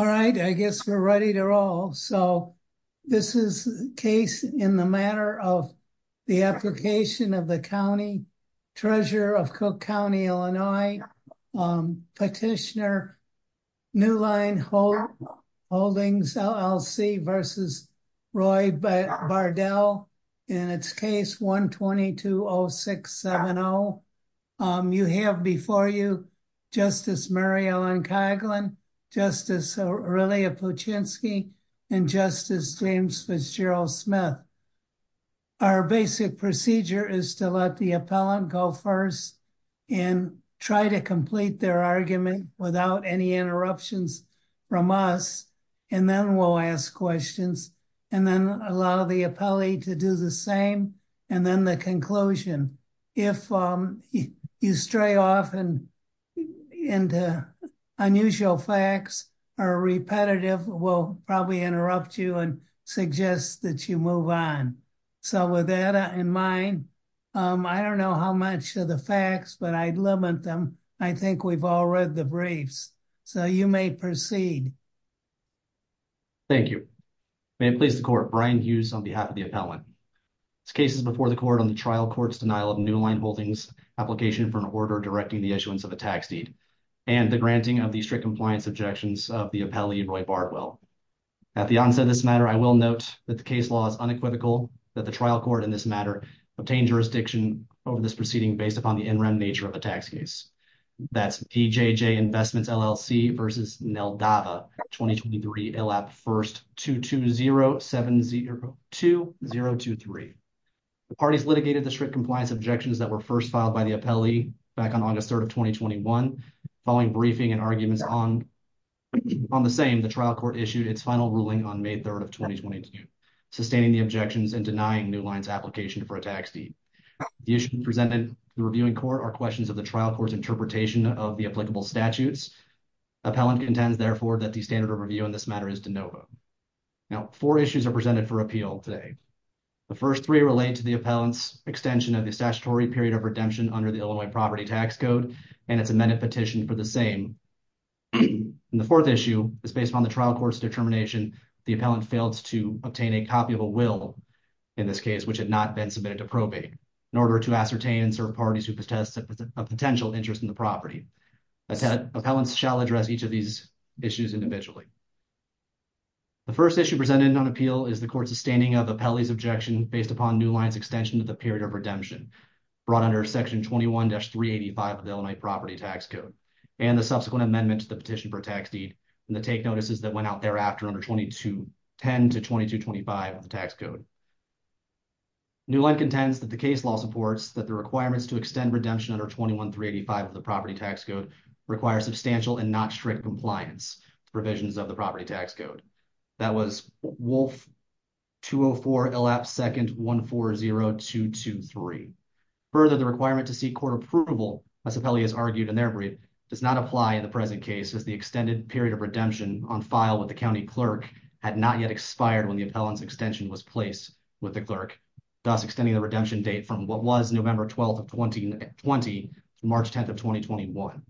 All right, I guess we're ready to roll. So this is a case in the matter of the application of the County Treasurer of Cook County, Illinois, Petitioner New Line Holdings LLC v. Roy Bardell in its case 120-206-70. You have before you Justice Mary Ellen Coghlan, Justice Aurelia Puchinsky and Justice James Fitzgerald-Smith. Our basic procedure is to let the appellant go first and try to complete their argument without any interruptions from us. And then we'll ask questions and then allow the appellee to do the same. And then the conclusion. If you stray off and into unusual facts or repetitive, we'll probably interrupt you and suggest that you move on. So with that in mind, I don't know how much of the facts, but I'd limit them. I think we've all read the briefs, so you may proceed. Thank you. May it please the Court, Brian Hughes on behalf of the appellant. This case is before the Court on the trial court's denial of New Line Holdings' application for an order directing the issuance of a tax deed and the granting of the strict compliance objections of the appellee, Roy Bardwell. At the onset of this matter, I will note that the case law is unequivocal that the trial court in this matter obtained jurisdiction over this proceeding based upon the in-rem nature of the tax case. That's PJJ Investments, LLC versus Neldava, 2023, ILAP 1st 220702023. The parties litigated the strict compliance objections that were first filed by the appellee back on August 3rd of 2021. Following briefing and arguments on the same, the trial court issued its final ruling on May 3rd of 2022, sustaining the objections and denying New Line's application for a tax deed. The issues presented to the reviewing court are questions of the trial court's interpretation of the applicable statutes. Appellant contends, therefore, that the standard of review in this matter is de novo. Now, four issues are presented for appeal today. The first three relate to the appellant's extension of the statutory period of redemption under the Illinois Property Tax Code, and it's amended petition for the same. And the fourth issue is based upon the trial court's determination that the appellant failed to obtain a copy of a will, in this case, which had not been submitted to probate, in order to ascertain and serve parties who protest a potential interest in the property. Appellants shall address each of these issues individually. The first issue presented on appeal is the court's sustaining of the appellee's objection based upon New Line's extension of the period of redemption brought under Section 21-385 of the Illinois Property Tax Code, and the subsequent amendment to the petition for a tax deed, and the take notices that went out thereafter under 10-2225 of the tax code. New Line contends that the case law supports that the requirements to extend redemption under 21-385 of the property tax code require substantial and not strict compliance provisions of the property tax code. That was WOLF 204 LAP 2nd 140223. Further, the requirement to seek court approval, as appellees argued in their brief, does not apply in the present case as the extended period of redemption on file with the county clerk had not yet expired when the appellant's extension was placed with the clerk, thus extending the redemption date from what was November 12th of 2020 to March 10th of 2021.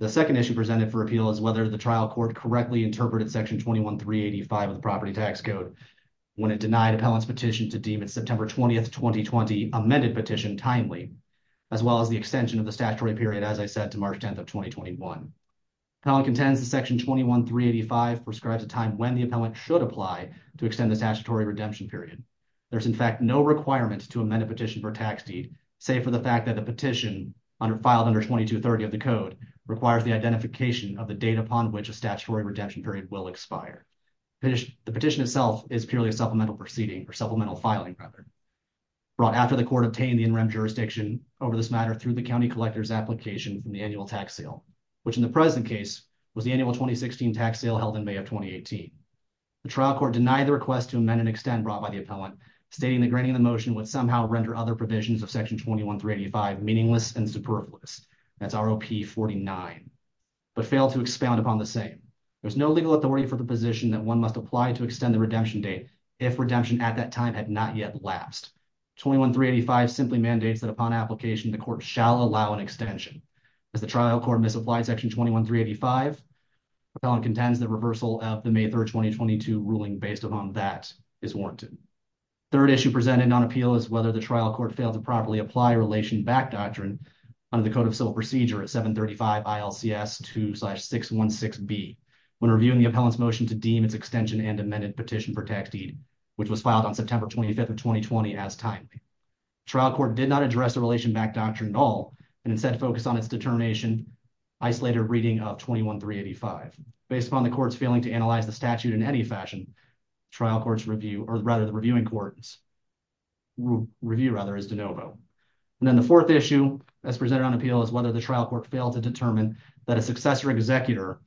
The second issue presented for appeal is whether the trial court correctly interpreted Section 21-385 of the property tax code when it denied appellant's petition to deem its September 20th, 2020 amended petition timely, as well as the extension of the statutory period, as I said, to March 10th of 2021. Appellant contends that Section 21-385 prescribes a time when the appellant should apply to extend the statutory redemption period. There's, in fact, no requirement to amend a petition for a tax deed, save for the fact that the petition filed under 2230 of the code requires the identification of the date upon which a statutory redemption period will expire. The petition itself is purely a supplemental proceeding, or supplemental filing, rather, brought after the court obtained the in-rem jurisdiction over this matter through the county collector's application in the annual tax sale, which in the present case was the annual 2016 tax sale held in May of 2018. The trial court denied the request to amend and extend brought by the appellant, stating the granting of the motion would somehow render other provisions of Section 21-385 meaningless and superfluous. That's R.O.P. 49, but failed to expound upon the same. There's no legal authority for the position that one must apply to extend the redemption date if redemption at that time had not yet lapsed. 21-385 simply mandates that upon application, the court shall allow an extension. As the trial court misapplied Section 21-385, appellant contends the reversal of the May 3rd, 2022 ruling based upon that is warranted. Third issue presented on appeal is whether the trial court failed to properly apply relation back doctrine under the Code of Civil Procedure at 735 ILCS 2-616B when reviewing the appellant's motion to deem its extension and amended petition for tax deed, which was filed on September 25th of 2020 as timely. Trial court did not address the relation back doctrine at all, and instead focused on its determination, isolated reading of 21-385. Based upon the court's failing to analyze the statute in any fashion, trial court's review, or rather the reviewing court's review, rather, is de novo. And then the fourth issue as presented on appeal is whether the trial court failed to determine that a successor executor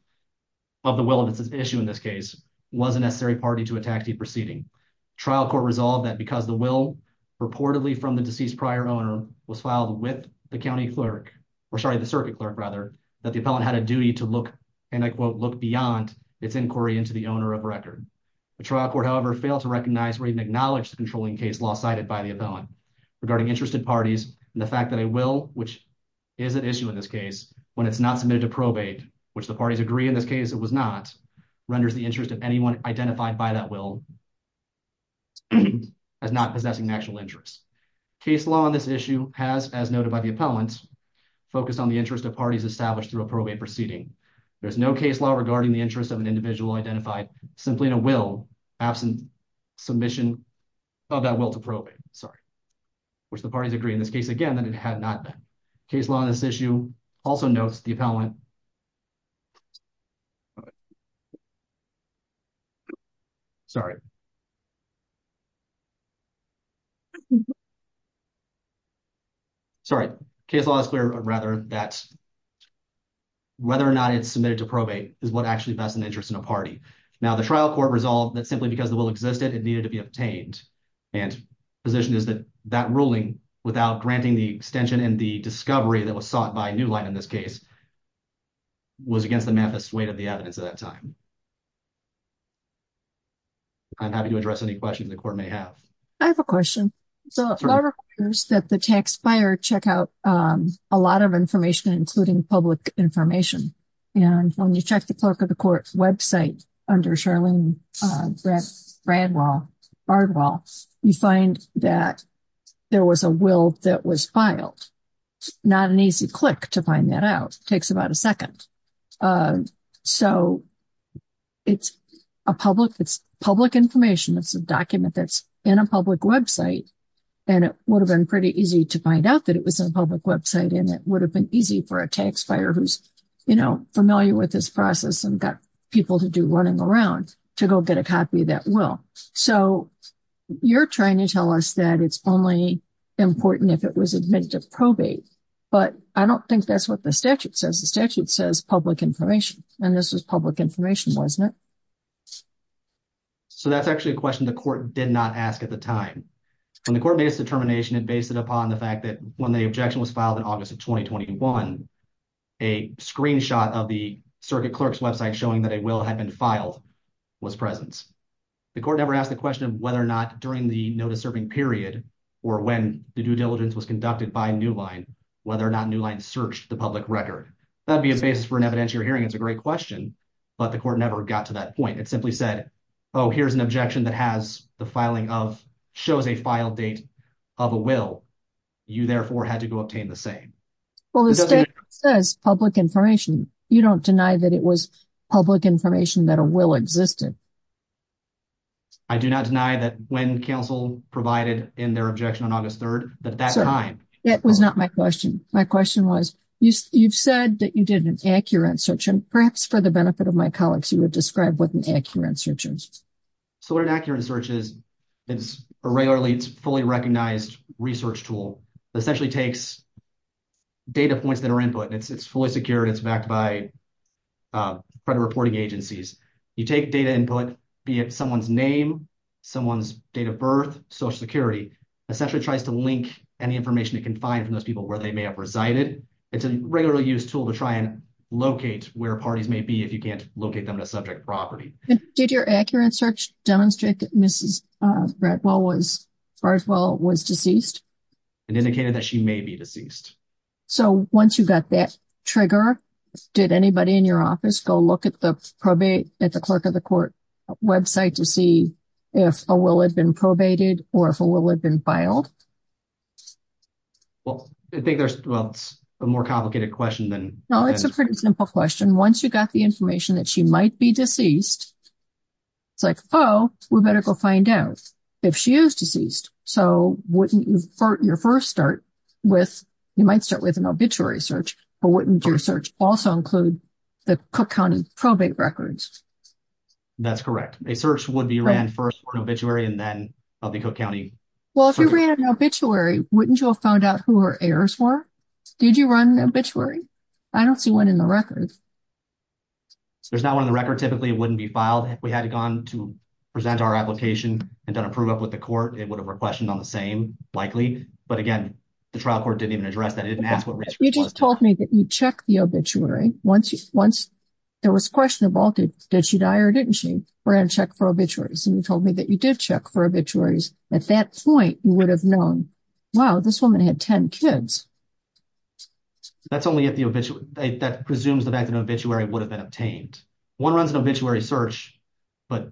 of the will of its issue in this case was a necessary party to a tax deed proceeding. Trial court resolved that because the will reportedly from the deceased prior owner was filed with the county clerk, or sorry, the circuit clerk, rather, that the appellant had a duty to look, and I quote, look beyond its inquiry into the owner of record. The trial court, however, failed to recognize or even acknowledge the controlling case law cited by the appellant. Regarding interested parties and the fact that a will, which is at issue in this case, when it's not submitted to probate, which the parties agree in this case it was not, renders the interest of anyone identified by that will as not possessing actual interest. Case law on this issue has, as noted by the appellant, focused on the interest of parties established through a probate proceeding. There's no case law regarding the interest of an individual identified simply in a will absent submission of that will to probate. Sorry. Which the parties agree in this case, again, that it had not been. Case law on this issue also notes the appellant. Sorry. Sorry. Case law is clear, rather, that whether or not it's submitted to probate is what actually vests an interest in a party. Now, the trial court resolved that simply because the will existed, it needed to be obtained. And the position is that that ruling, without granting the extension and the discovery that was sought by New Line in this case, was against the manifest weight of the evidence at that time. I'm happy to address any questions the court may have. I have a question. So, it requires that the tax buyer check out a lot of information, including public information. And when you check the clerk of the court's website under Charlene Bradwell, you find that there was a will that was filed. Not an easy click to find that out. It takes about a second. So, it's a public information. It's a document that's in a public website. And it would have been pretty easy to find out that it was in a public website, and it would have been easy for a tax buyer who's familiar with this process and got people to do running around to go get a copy of that will. So, you're trying to tell us that it's only important if it was admitted to probate. But I don't think that's what the statute says. The statute says public information. And this was public information, wasn't it? So, that's actually a question the court did not ask at the time. When the court made its determination, it based it upon the fact that when the objection was filed in August of 2021, a screenshot of the circuit clerk's website showing that a will had been filed was present. The court never asked the question of whether or not during the notice-serving period or when the due diligence was conducted by Newline, whether or not Newline searched the public record. That would be a basis for an evidentiary hearing. It's a great question. But the court never got to that point. It simply said, oh, here's an objection that shows a file date of a will. You, therefore, had to go obtain the same. Well, the statute says public information. You don't deny that it was public information, that a will existed? I do not deny that when counsel provided in their objection on August 3rd, that that time. That was not my question. My question was, you've said that you did an accurate search. And perhaps for the benefit of my colleagues, you would describe what an accurate search is. So what an accurate search is, it's a regularly fully recognized research tool. It essentially takes data points that are input. It's fully secured. It's backed by credit reporting agencies. You take data input, be it someone's name, someone's date of birth, Social Security, essentially tries to link any information it can find from those people where they may have resided. It's a regularly used tool to try and locate where parties may be if you can't locate them in a subject property. Did your accurate search demonstrate that Mrs. Bradwell was deceased? It indicated that she may be deceased. So once you got that trigger, did anybody in your office go look at the clerk of the court website to see if a will had been probated or if a will had been filed? Well, I think there's a more complicated question than... No, it's a pretty simple question. Once you got the information that she might be deceased, it's like, oh, we better go find out if she is deceased. So wouldn't your first start with, you might start with an obituary search, but wouldn't your search also include the Cook County probate records? That's correct. A search would be ran first for an obituary and then of the Cook County... Well, if you ran an obituary, wouldn't you have found out who her heirs were? Did you run an obituary? I don't see one in the records. There's not one in the record. Typically, it wouldn't be filed. If we had gone to present our application and done a prove up with the court, it would have requested on the same, likely. But again, the trial court didn't even address that. It didn't ask what... You just told me that you checked the obituary. And you told me that you did check for obituaries. At that point, you would have known, wow, this woman had 10 kids. That's only if the obituary... That presumes the fact that an obituary would have been obtained. One runs an obituary search, but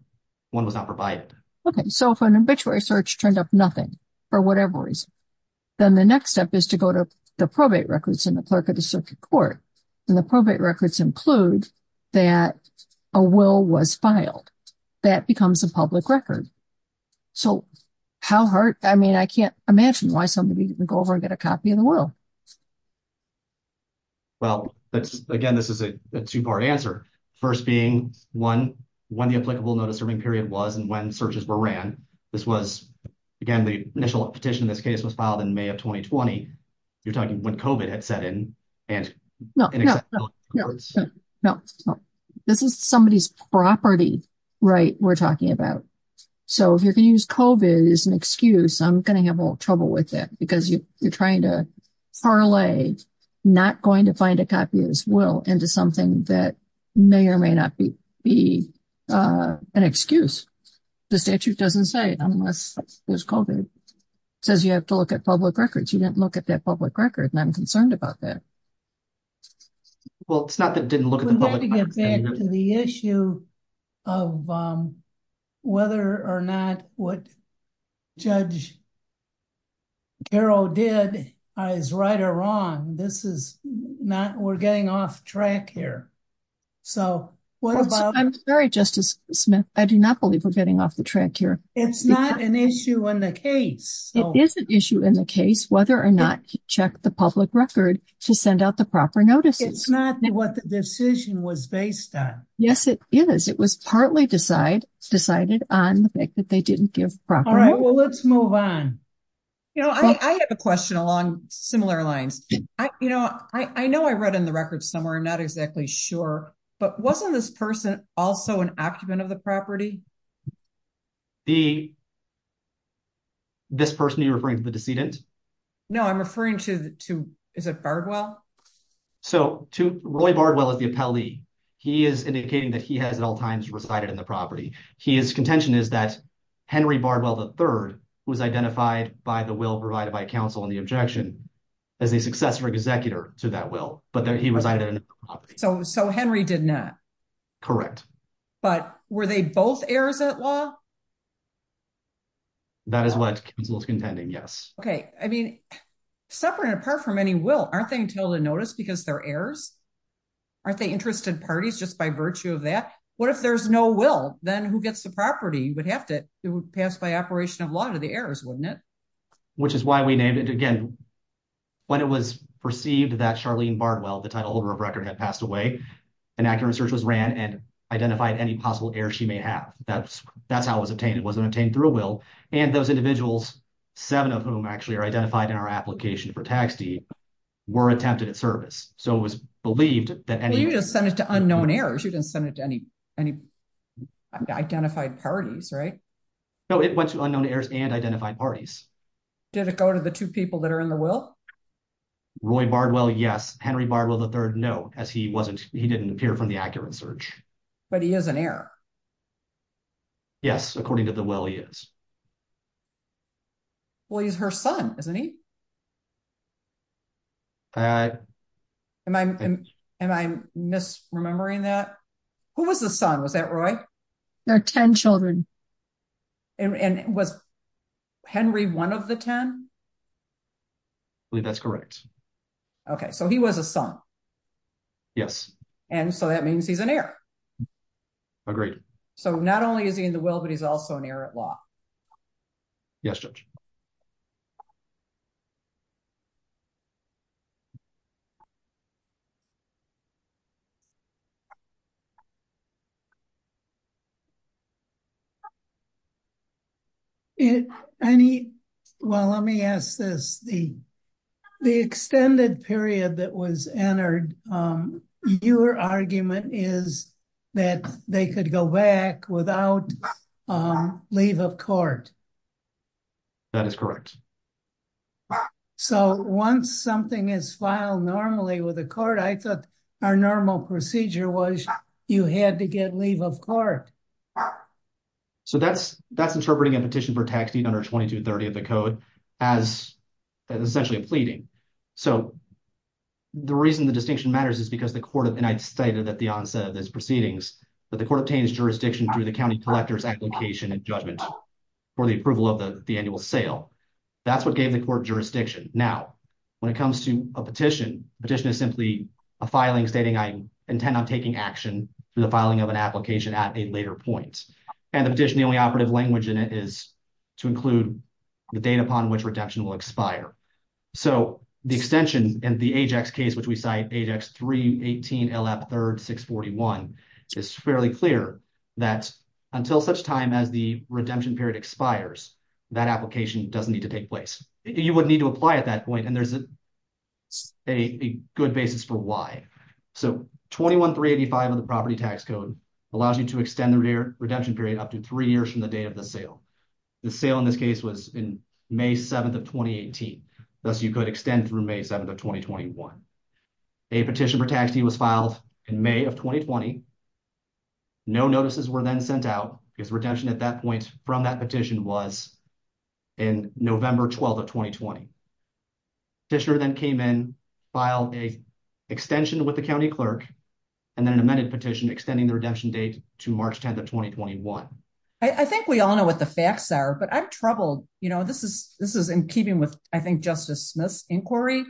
one was not provided. Okay, so if an obituary search turned up nothing for whatever reason, then the next step is to go to the probate records and the clerk of the circuit court. And the probate records include that a will was filed. That becomes a public record. So how hard... I mean, I can't imagine why somebody didn't go over and get a copy of the will. Well, again, this is a two-part answer. First being, one, when the applicable notice serving period was and when searches were ran. This was, again, the initial petition in this case was filed in May of 2020. You're talking when COVID had set in. No, no, no. This is somebody's property right we're talking about. So if you're going to use COVID as an excuse, I'm going to have a little trouble with that because you're trying to parlay not going to find a copy of this will into something that may or may not be an excuse. The statute doesn't say unless there's COVID. It says you have to look at public records. But you didn't look at that public record and I'm concerned about that. Well, it's not that I didn't look at the public record. We have to get back to the issue of whether or not what Judge Garrow did is right or wrong. This is not... we're getting off track here. So what about... I'm sorry, Justice Smith. I do not believe we're getting off the track here. It's not an issue in the case. It is an issue in the case whether or not you check the public record to send out the proper notices. It's not what the decision was based on. Yes, it is. It was partly decided on the fact that they didn't give proper notice. All right, well, let's move on. You know, I have a question along similar lines. You know, I know I read in the record somewhere. I'm not exactly sure. But wasn't this person also an occupant of the property? This person you're referring to, the decedent? No, I'm referring to... is it Bardwell? So Roy Bardwell is the appellee. He is indicating that he has at all times resided in the property. His contention is that Henry Bardwell III was identified by the will provided by counsel in the objection as a successor executor to that will. But he resided in the property. So Henry did not? Correct. But were they both heirs at law? That is what counsel is contending, yes. Okay. I mean, separate and apart from any will, aren't they entitled to notice because they're heirs? Aren't they interested parties just by virtue of that? What if there's no will? Then who gets the property? You would have to pass by operation of law to the heirs, wouldn't it? Which is why we named it again. When it was perceived that Charlene Bardwell, the title holder of record, had passed away, an accurate search was ran and identified any possible heirs she may have. That's how it was obtained. It wasn't obtained through a will. And those individuals, seven of whom actually are identified in our application for tax deed, were attempted at service. So it was believed that any... Well, you just sent it to unknown heirs. You didn't send it to any identified parties, right? No, it went to unknown heirs and identified parties. Did it go to the two people that are in the will? Roy Bardwell, yes. Henry Bardwell III, no, as he didn't appear from the accurate search. But he is an heir. Yes, according to the will, he is. Well, he's her son, isn't he? I... Am I misremembering that? Who was the son? Was that Roy? They're 10 children. And was Henry one of the 10? I believe that's correct. Okay, so he was a son. Yes. And so that means he's an heir. Agreed. So not only is he in the will, but he's also an heir at law. Yes, Judge. Any... Well, let me ask this. The extended period that was entered, your argument is that they could go back without leave of court. That is correct. So once something is filed normally with the court, I thought our normal procedure was you had to get leave of court. So that's interpreting a petition for tax deed under 2230 of the code as essentially a pleading. So the reason the distinction matters is because the court of... And I stated at the onset of this proceedings that the court obtains jurisdiction through the county collector's application and judgment for the approval of the annual sale. That's what gave the court jurisdiction. Now, when it comes to a petition, a petition is simply a filing stating I intend on taking action for the filing of an application at a later point. And the petition, the only operative language in it is to include the date upon which redemption will expire. So the extension and the AJAX case, which we cite AJAX 318 LF 3rd 641, is fairly clear that until such time as the redemption period expires, that application doesn't need to take place. You would need to apply at that point, and there's a good basis for why. So 21385 of the property tax code allows you to extend the redemption period up to three years from the date of the sale. The sale in this case was in May 7th of 2018. Thus, you could extend through May 7th of 2021. A petition for tax deed was filed in May of 2020. No notices were then sent out because redemption at that point from that petition was in November 12th of 2020. Petitioner then came in, filed an extension with the county clerk, and then an amended petition extending the redemption date to March 10th of 2021. I think we all know what the facts are, but I'm troubled. You know, this is in keeping with, I think, Justice Smith's inquiry.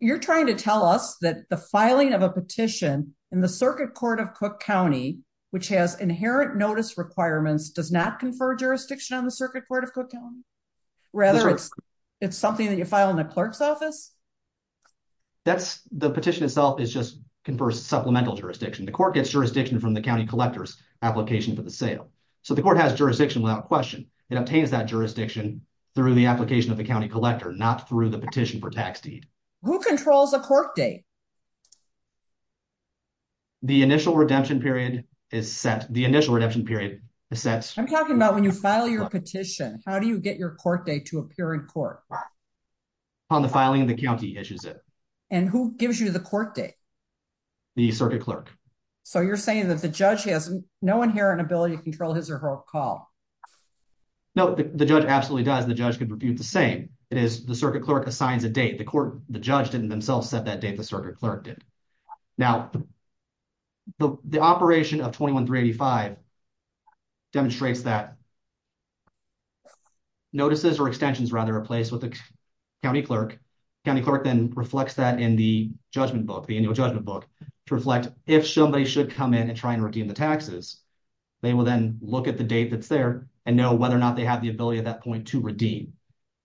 You're trying to tell us that the filing of a petition in the Circuit Court of Cook County, which has inherent notice requirements, does not confer jurisdiction on the Circuit Court of Cook County? Rather, it's something that you file in the clerk's office? The petition itself just confers supplemental jurisdiction. The court gets jurisdiction from the county collector's application for the sale. So the court has jurisdiction without question. It obtains that jurisdiction through the application of the county collector, not through the petition for tax deed. Who controls a court date? The initial redemption period is set. I'm talking about when you file your petition. How do you get your court date to appear in court? On the filing, the county issues it. And who gives you the court date? The circuit clerk. So you're saying that the judge has no inherent ability to control his or her call? No, the judge absolutely does. The judge could refute the same. It is the circuit clerk assigns a date. The judge didn't themselves set that date, the circuit clerk did. Now, the operation of 21-385 demonstrates that notices or extensions, rather, are placed with the county clerk. The county clerk then reflects that in the judgment book, the annual judgment book, to reflect if somebody should come in and try and redeem the taxes. They will then look at the date that's there and know whether or not they have the ability at that point to redeem.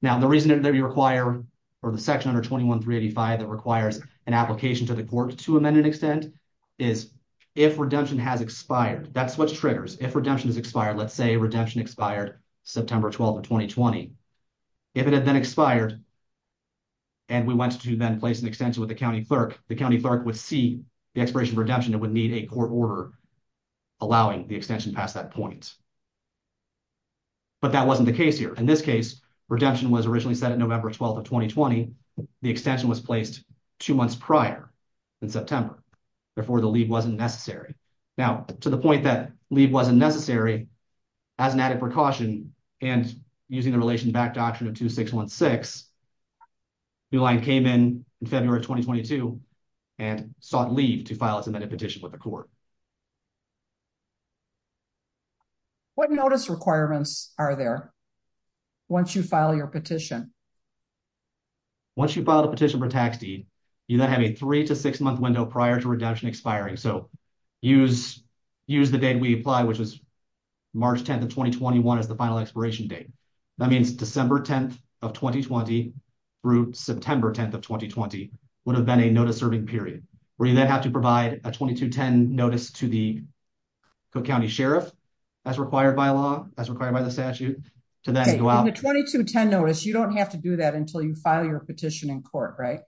Now, the reason that we require, or the section under 21-385 that requires an application to the court to amend an extent, is if redemption has expired. That's what triggers. If redemption has expired, let's say redemption expired September 12, 2020. If it had then expired and we went to then place an extension with the county clerk, the county clerk would see the expiration of redemption and would need a court order allowing the extension past that point. But that wasn't the case here. In this case, redemption was originally set at November 12, 2020. The extension was placed two months prior in September. Therefore, the leave wasn't necessary. Now, to the point that leave wasn't necessary, as an added precaution, and using the relation-backed Doctrine of 2616, New Line came in in February of 2022 and sought leave to file its amended petition with the court. What notice requirements are there once you file your petition? Once you file a petition for tax deed, you then have a three- to six-month window prior to redemption expiring. So, use the date we apply, which is March 10, 2021, as the final expiration date. That means December 10, 2020 through September 10, 2020 would have been a notice-serving period, where you then have to provide a 2210 notice to the Cook County Sheriff, as required by law, as required by the statute, to then go out. So, on the 2210 notice, you don't have to do that until you file your petition in court, right?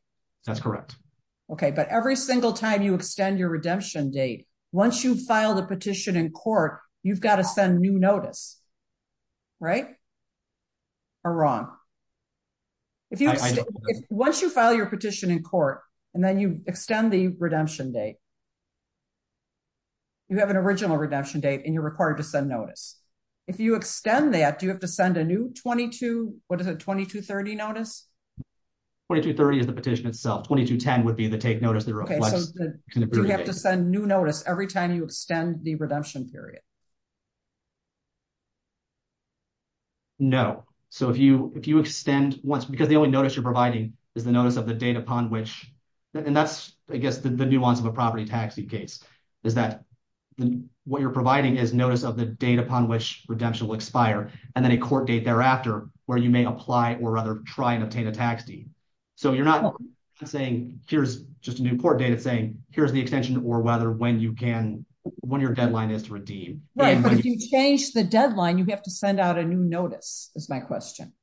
That's correct. Okay, but every single time you extend your redemption date, once you file the petition in court, you've got to send new notice, right? Or wrong? I know. So, you file your petition in court, and then you extend the redemption date. You have an original redemption date, and you're required to send notice. If you extend that, do you have to send a new 2230 notice? 2230 is the petition itself. 2210 would be the take notice that reflects an abbreviation. Okay, so do you have to send new notice every time you extend the redemption period? No. So, if you extend once, because the only notice you're providing is the notice of the date upon which, and that's, I guess, the nuance of a property tax deed case, is that what you're providing is notice of the date upon which redemption will expire, and then a court date thereafter, where you may apply or rather try and obtain a tax deed. So, you're not saying, here's just a new court date. It's saying, here's the extension or whether when you can, when your deadline is to redeem. Right, but if you change the deadline, you have to send out a new notice, is my question.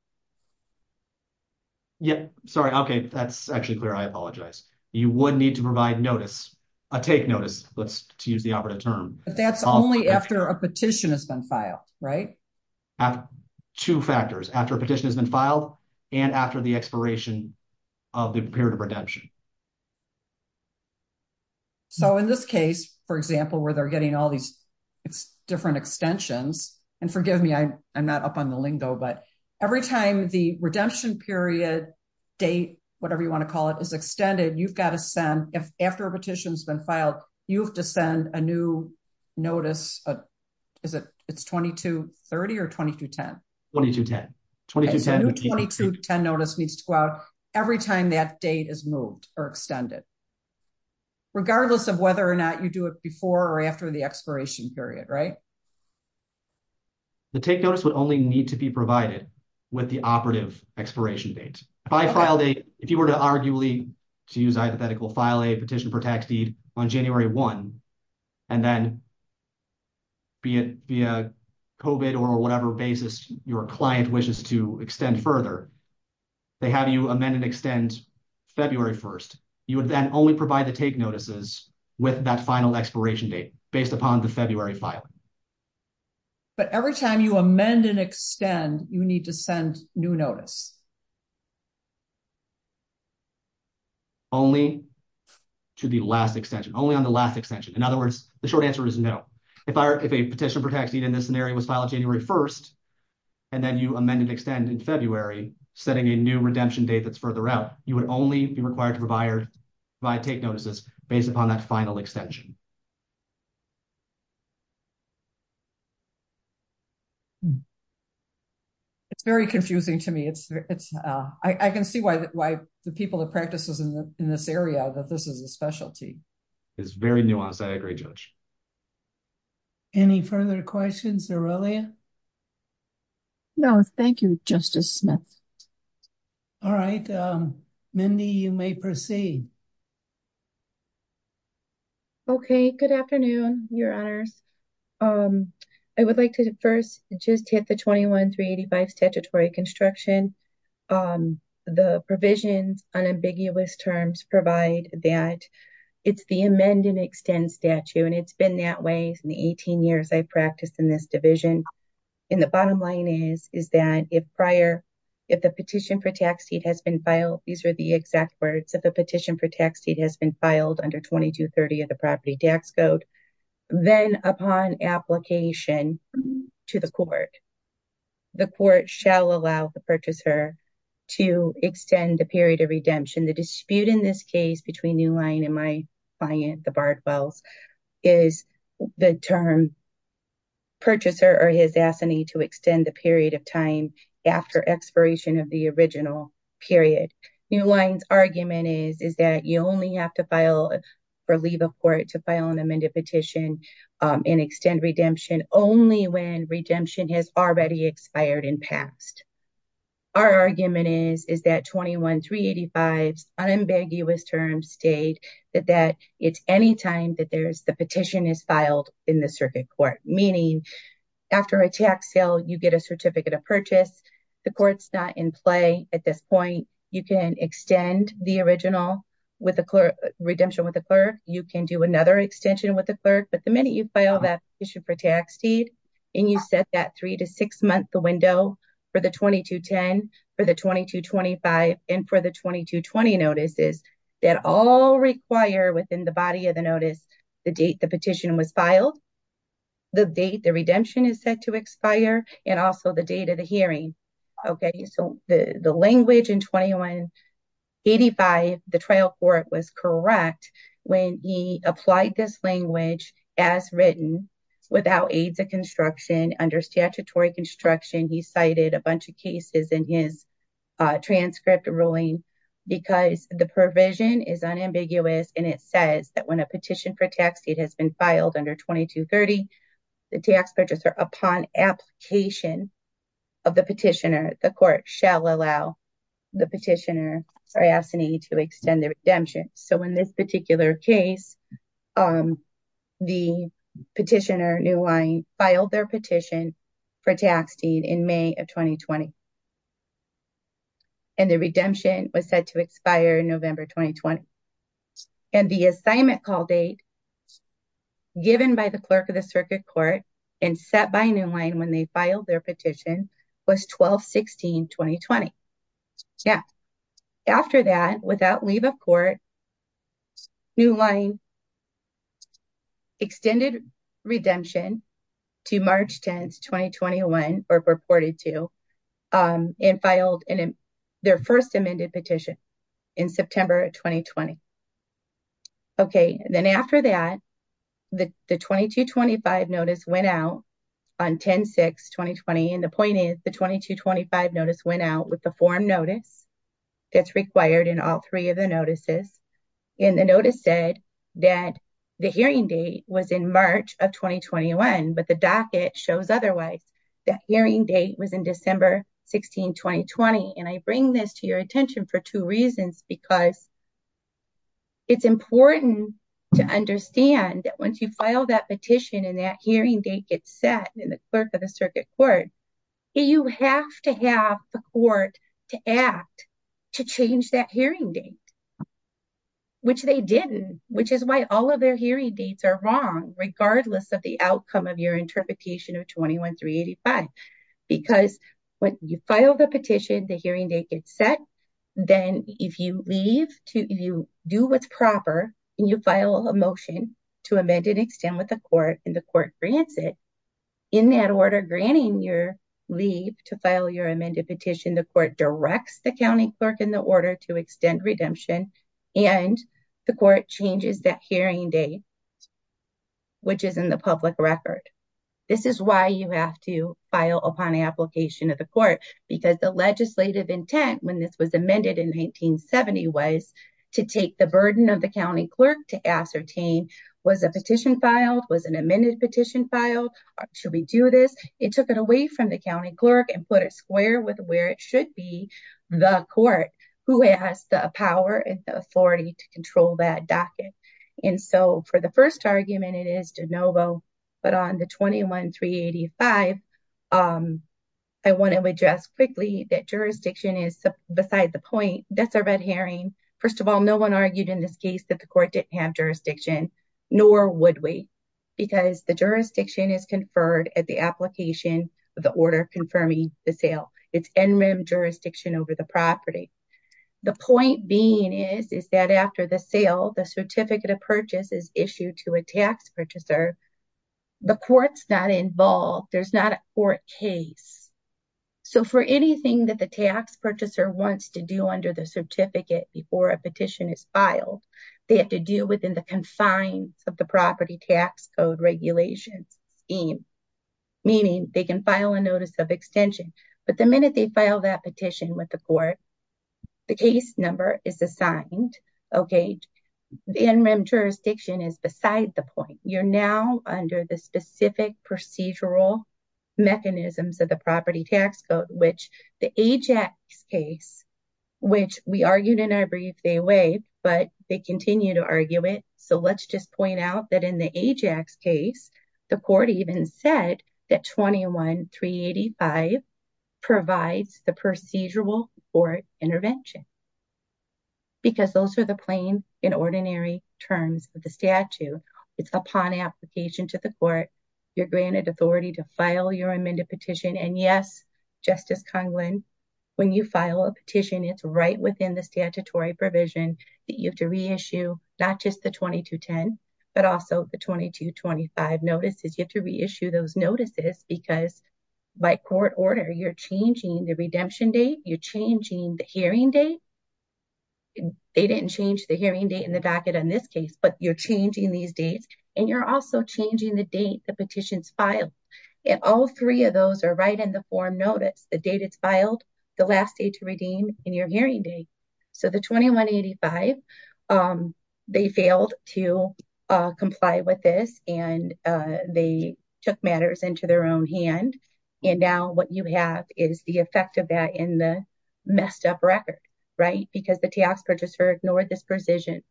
Yeah, sorry. Okay, that's actually clear. I apologize. You would need to provide notice, a take notice, to use the operative term. But that's only after a petition has been filed, right? Two factors, after a petition has been filed, and after the expiration of the period of redemption. So, in this case, for example, where they're getting all these different extensions, and forgive me, I'm not up on the lingo, but every time the redemption period date, whatever you want to call it, is extended, you've got to send, after a petition has been filed, you have to send a new notice. Is it 2230 or 2210? 2210. A new 2210 notice needs to go out every time that date is moved or extended, regardless of whether or not you do it before or after the expiration period, right? The take notice would only need to be provided with the operative expiration date. By file date, if you were to arguably, to use hypothetical, file a petition for tax deed on January 1, and then, be it via COVID or whatever basis your client wishes to extend further, they have you amend and extend February 1st. You would then only provide the take notices with that final expiration date, based upon the February filing. But every time you amend and extend, you need to send new notice. Only to the last extension, only on the last extension. In other words, the short answer is no. If a petition for tax deed in this scenario was filed January 1st, and then you amend and extend in February, setting a new redemption date that's further out, you would only be required to provide take notices based upon that final extension. It's very confusing to me. It's, it's, I can see why, why the people that practices in this area that this is a specialty. It's very nuanced. I agree, Judge. Any further questions, Aurelia? No, thank you, Justice Smith. All right, Mindy, you may proceed. Okay, good afternoon, Your Honors. I would like to first just hit the 21-385 statutory construction. The provisions on ambiguous terms provide that it's the amend and extend statute, and it's been that way in the 18 years I practiced in this division. And the bottom line is, is that if prior, if the petition for tax deed has been filed, these are the exact words, if a petition for tax deed has been filed under 2230 of the Property Tax Code, then upon application to the court, the court shall allow the purchaser to extend the period of redemption. The dispute in this case between New Line and my client, the Bardwells, is the term purchaser or his assignee to extend the period of time after expiration of the original period. New Line's argument is, is that you only have to file for leave of court to file an amended petition and extend redemption only when redemption has already expired and passed. Our argument is, is that 21-385's unambiguous terms state that it's any time that the petition is filed in the circuit court, meaning after a tax sale, you get a certificate of purchase. The court's not in play at this point. You can extend the original redemption with the clerk. You can do another extension with the clerk. But the minute you file that petition for tax deed and you set that three- to six-month window for the 2210, for the 2225, and for the 2220 notices that all require within the body of the notice the date the petition was filed, the date the redemption is set to expire, and also the date of the hearing. Okay, so the language in 21-385, the trial court was correct when he applied this language as written without aides of construction under statutory construction. He cited a bunch of cases in his transcript ruling because the provision is unambiguous and it says that when a petition for tax deed has been filed under 2230, the tax purchaser, upon application of the petitioner, the court shall allow the petitioner to extend their redemption. So in this particular case, the petitioner, New Line, filed their petition for tax deed in May of 2020. And the redemption was set to expire in November 2020. And the assignment call date given by the clerk of the circuit court and set by New Line when they filed their petition was 12-16-2020. After that, without leave of court, New Line extended redemption to March 10, 2021, or purported to, and filed their first amended petition in September 2020. Okay, then after that, the 2225 notice went out on 10-6-2020, and the point is the 2225 notice went out with the form notice that's required in all three of the notices. And the notice said that the hearing date was in March of 2021, but the docket shows otherwise. That hearing date was in December 16, 2020. And I bring this to your attention for two reasons, because it's important to understand that once you file that petition and that hearing date gets set in the clerk of the circuit court, you have to have the court to act to change that hearing date. Which they didn't, which is why all of their hearing dates are wrong, regardless of the outcome of your interpretation of 21-385. Because when you file the petition, the hearing date gets set, then if you leave, if you do what's proper, and you file a motion to amend and extend with the court, and the court grants it, in that order granting your leave to file your amended petition, the court directs the county clerk in the order to extend redemption, and the court changes that hearing date, which is in the public record. This is why you have to file upon application of the court, because the legislative intent when this was amended in 1970 was to take the burden of the county clerk to ascertain, was a petition filed? Was an amended petition filed? Should we do this? It took it away from the county clerk and put it square with where it should be, the court, who has the power and authority to control that docket. And so, for the first argument, it is de novo, but on the 21-385, I want to address quickly that jurisdiction is beside the point. That's our red herring. First of all, no one argued in this case that the court didn't have jurisdiction, nor would we, because the jurisdiction is conferred at the application of the order confirming the sale. It's NREM jurisdiction over the property. The point being is, is that after the sale, the certificate of purchase is issued to a tax purchaser. The court's not involved. There's not a court case. So, for anything that the tax purchaser wants to do under the certificate before a petition is filed, they have to do within the confines of the property tax code regulation scheme, meaning they can file a notice of extension. But the minute they file that petition with the court, the case number is assigned, okay? The NREM jurisdiction is beside the point. You're now under the specific procedural mechanisms of the property tax code, which the AJAX case, which we argued in our brief, they waived, but they continue to argue it. So, let's just point out that in the AJAX case, the court even said that 21-385 provides the procedural court intervention, because those are the plain and ordinary terms of the statute. It's upon application to the court. You're granted authority to file your amended petition, and yes, Justice Conklin, when you file a petition, it's right within the statutory provision that you have to reissue not just the 2210, but also the 2225 notices. You have to reissue those notices, because by court order, you're changing the redemption date. You're changing the hearing date. They didn't change the hearing date in the docket in this case, but you're changing these dates, and you're also changing the date the petition's filed. And all three of those are right in the form notice, the date it's filed, the last day to redeem, and your hearing date. So, the 21-885, they failed to comply with this, and they took matters into their own hand, and now what you have is the effect of that in the messed up record, right? Because the TAX purchaser ignored this provision,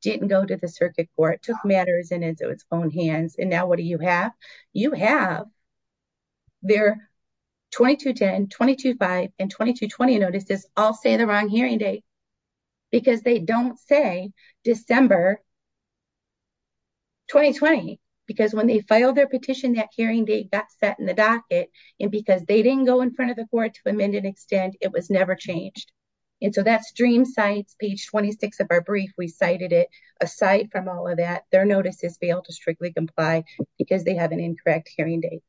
didn't go to the circuit court, took matters into its own hands, and now what do you have? You have their 2210, 2225, and 2220 notices all say the wrong hearing date, because they don't say December 2020. Because when they filed their petition, that hearing date got set in the docket, and because they didn't go in front of the court to amend and extend, it was never changed. And so, that's Dream Sites, page 26 of our brief. We cited it. Aside from all of that, their notices fail to strictly comply because they have an incorrect hearing date.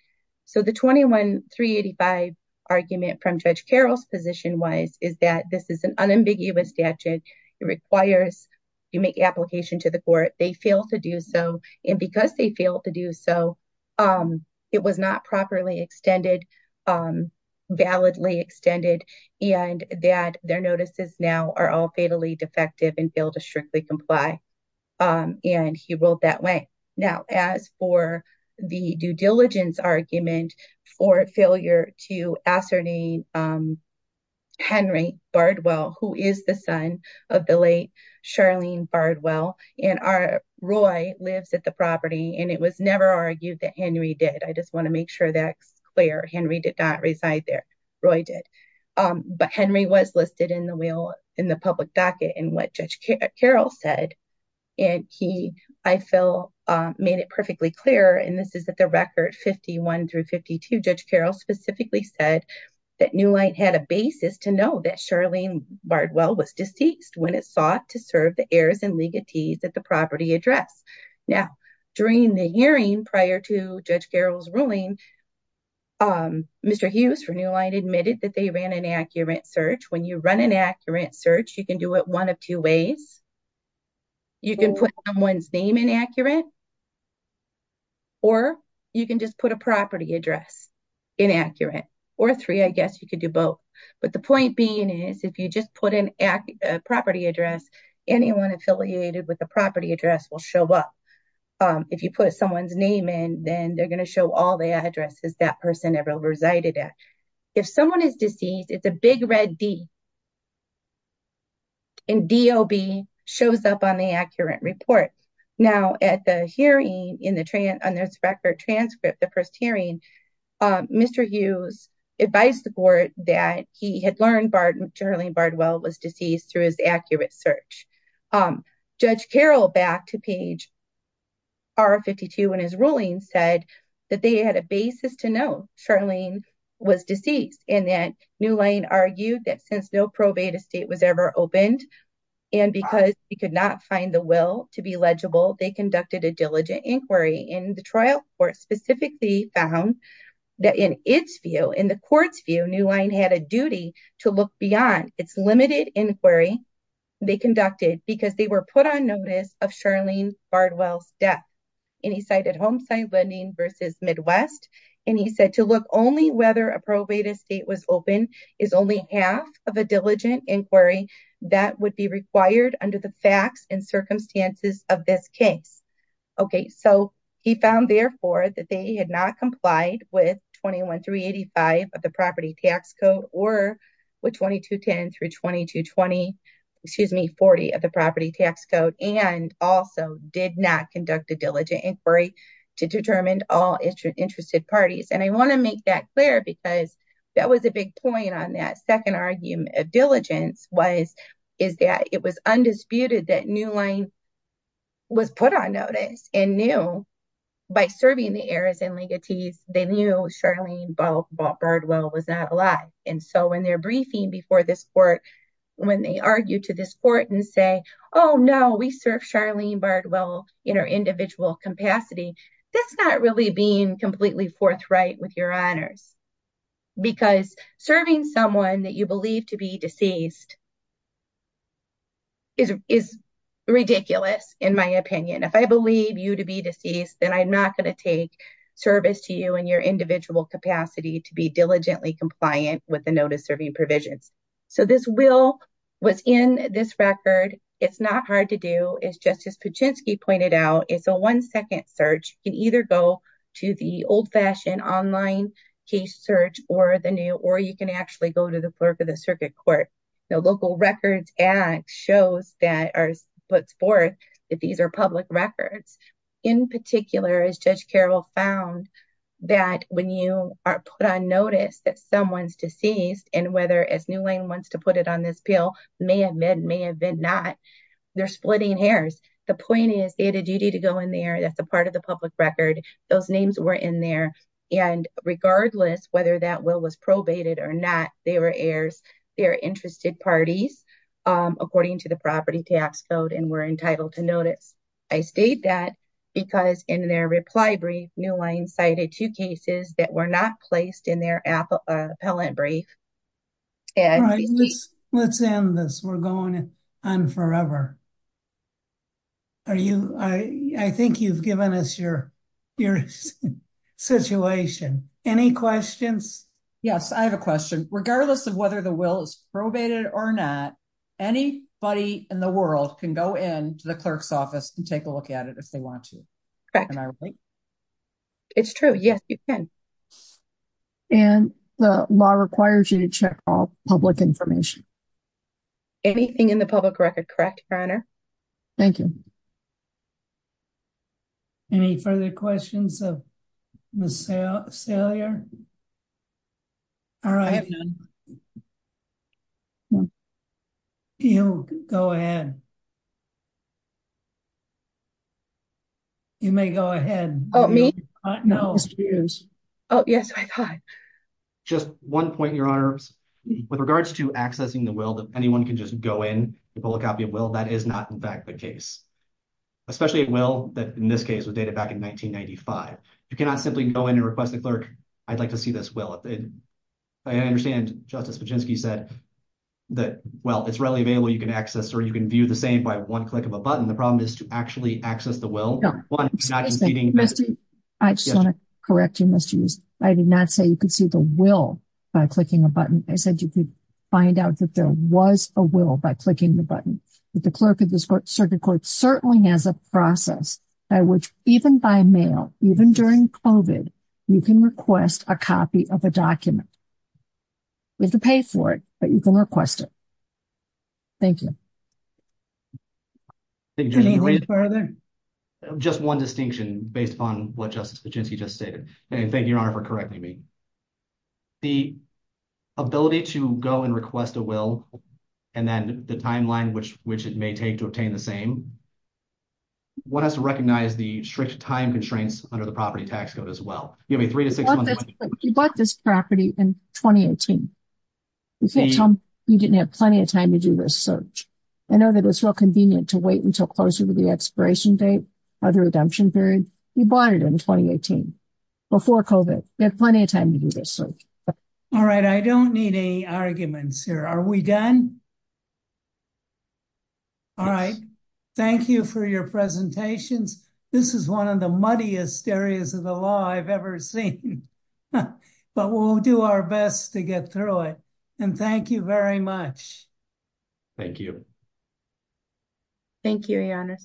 So, the 21-385 argument from Judge Carroll's position wise is that this is an unambiguous statute. It requires you make application to the court. They fail to do so, and because they fail to do so, it was not properly extended, validly extended, and that their notices now are all fatally defective and fail to strictly comply, and he ruled that way. Now, as for the due diligence argument for failure to ascertain Henry Bardwell, who is the son of the late Charlene Bardwell, and Roy lives at the property, and it was never argued that Henry did. I just want to make sure that's clear. Henry did not reside there. Roy did. But Henry was listed in the public docket in what Judge Carroll said, and he, I feel, made it perfectly clear, and this is at the record 51 through 52. Judge Carroll specifically said that New Line had a basis to know that Charlene Bardwell was deceased when it sought to serve the heirs and legatees at the property address. Now, during the hearing prior to Judge Carroll's ruling, Mr. Hughes for New Line admitted that they ran an accurate search. When you run an accurate search, you can do it one of two ways. You can put someone's name in accurate, or you can just put a property address in accurate, or three. I guess you could do both, but the point being is if you just put in a property address, anyone affiliated with the property address will show up. If you put someone's name in, then they're going to show all the addresses that person ever resided at. If someone is deceased, it's a big red D, and D.O.B. shows up on the accurate report. Now, at the hearing in this record transcript, the first hearing, Mr. Hughes advised the court that he had learned Charlene Bardwell was deceased through his accurate search. Judge Carroll, back to page R52 in his ruling, said that they had a basis to know Charlene was deceased, and that New Line argued that since no probate estate was ever opened, and because he could not find the will to be legible, they conducted a diligent inquiry, and the trial court specifically found that in its view, in the court's view, New Line had a duty to look beyond its limited inquiry. They conducted because they were put on notice of Charlene Bardwell's death. And he cited Homeside Lending versus Midwest, and he said to look only whether a probate estate was open is only half of a diligent inquiry that would be required under the facts and circumstances of this case. Okay, so he found, therefore, that they had not complied with 21385 of the property tax code or with 2210 through 2220, excuse me, 40 of the property tax code, and also did not conduct a diligent inquiry to determine all interested parties. And I want to make that clear because that was a big point on that second argument of diligence was, is that it was undisputed that New Line was put on notice and knew by serving the heirs and legatees, they knew Charlene Bardwell was not alive. And so when they're briefing before this court, when they argue to this court and say, Oh, no, we serve Charlene Bardwell in our individual capacity, that's not really being completely forthright with your honors. Because serving someone that you believe to be deceased is ridiculous, in my opinion, if I believe you to be deceased, then I'm not going to take service to you and your individual capacity to be diligently compliant with the notice serving provisions. So this will, what's in this record, it's not hard to do is just as Paczynski pointed out, it's a one second search can either go to the old fashioned online case search or the new or you can actually go to the clerk of the circuit court. The local records act shows that are puts forth that these are public records. In particular, as Judge Carroll found that when you are put on notice that someone's deceased and whether as New Line wants to put it on this bill may have been, may have been not. They're splitting hairs. The point is they had a duty to go in there. That's a part of the public record. Those names were in there. And regardless whether that will was probated or not, they were heirs. They're interested parties, according to the property tax code and were entitled to notice. I state that because in their reply brief, New Line cited two cases that were not placed in their appellate brief. Let's end this. We're going on forever. Are you, I think you've given us your, your situation. Any questions. Yes, I have a question, regardless of whether the will is probated or not, anybody in the world can go in to the clerk's office and take a look at it if they want to. It's true. Yes, you can. And the law requires you to check all public information. Anything in the public record. Correct. Thank you. Any further questions. All right. Go ahead. You may go ahead. Oh, me. No. Oh, yes. Just one point your arms. With regards to accessing the will that anyone can just go in and pull a copy of will that is not in fact the case, especially it will that in this case with data back in 1995, you cannot simply go in and request the clerk. I'd like to see this will it. I understand, Justice, but just he said that, well, it's readily available you can access or you can view the same by one click of a button the problem is to actually access the will. I just want to correct you must use. I did not say you could see the will by clicking a button, I said you could find out that there was a will by clicking the button with the clerk of this court circuit court certainly has a process by which even by now, even during COVID, you can request a copy of a document with the pay for it, but you can request it. Thank you. Further. Just one distinction based on what justice agency just stated, and thank you for correcting me. The ability to go and request a will. And then the timeline which which it may take to obtain the same. What has to recognize the strict time constraints under the property tax code as well, give me three to six months. You bought this property in 2018. You didn't have plenty of time to do this search. I know that it's real convenient to wait until closer to the expiration date of the redemption period. You bought it in 2018. Before COVID, you have plenty of time to do this. All right, I don't need any arguments here are we done. All right. Thank you for your presentations. This is one of the muddiest areas of the law I've ever seen. But we'll do our best to get through it. And thank you very much. Thank you. Thank you.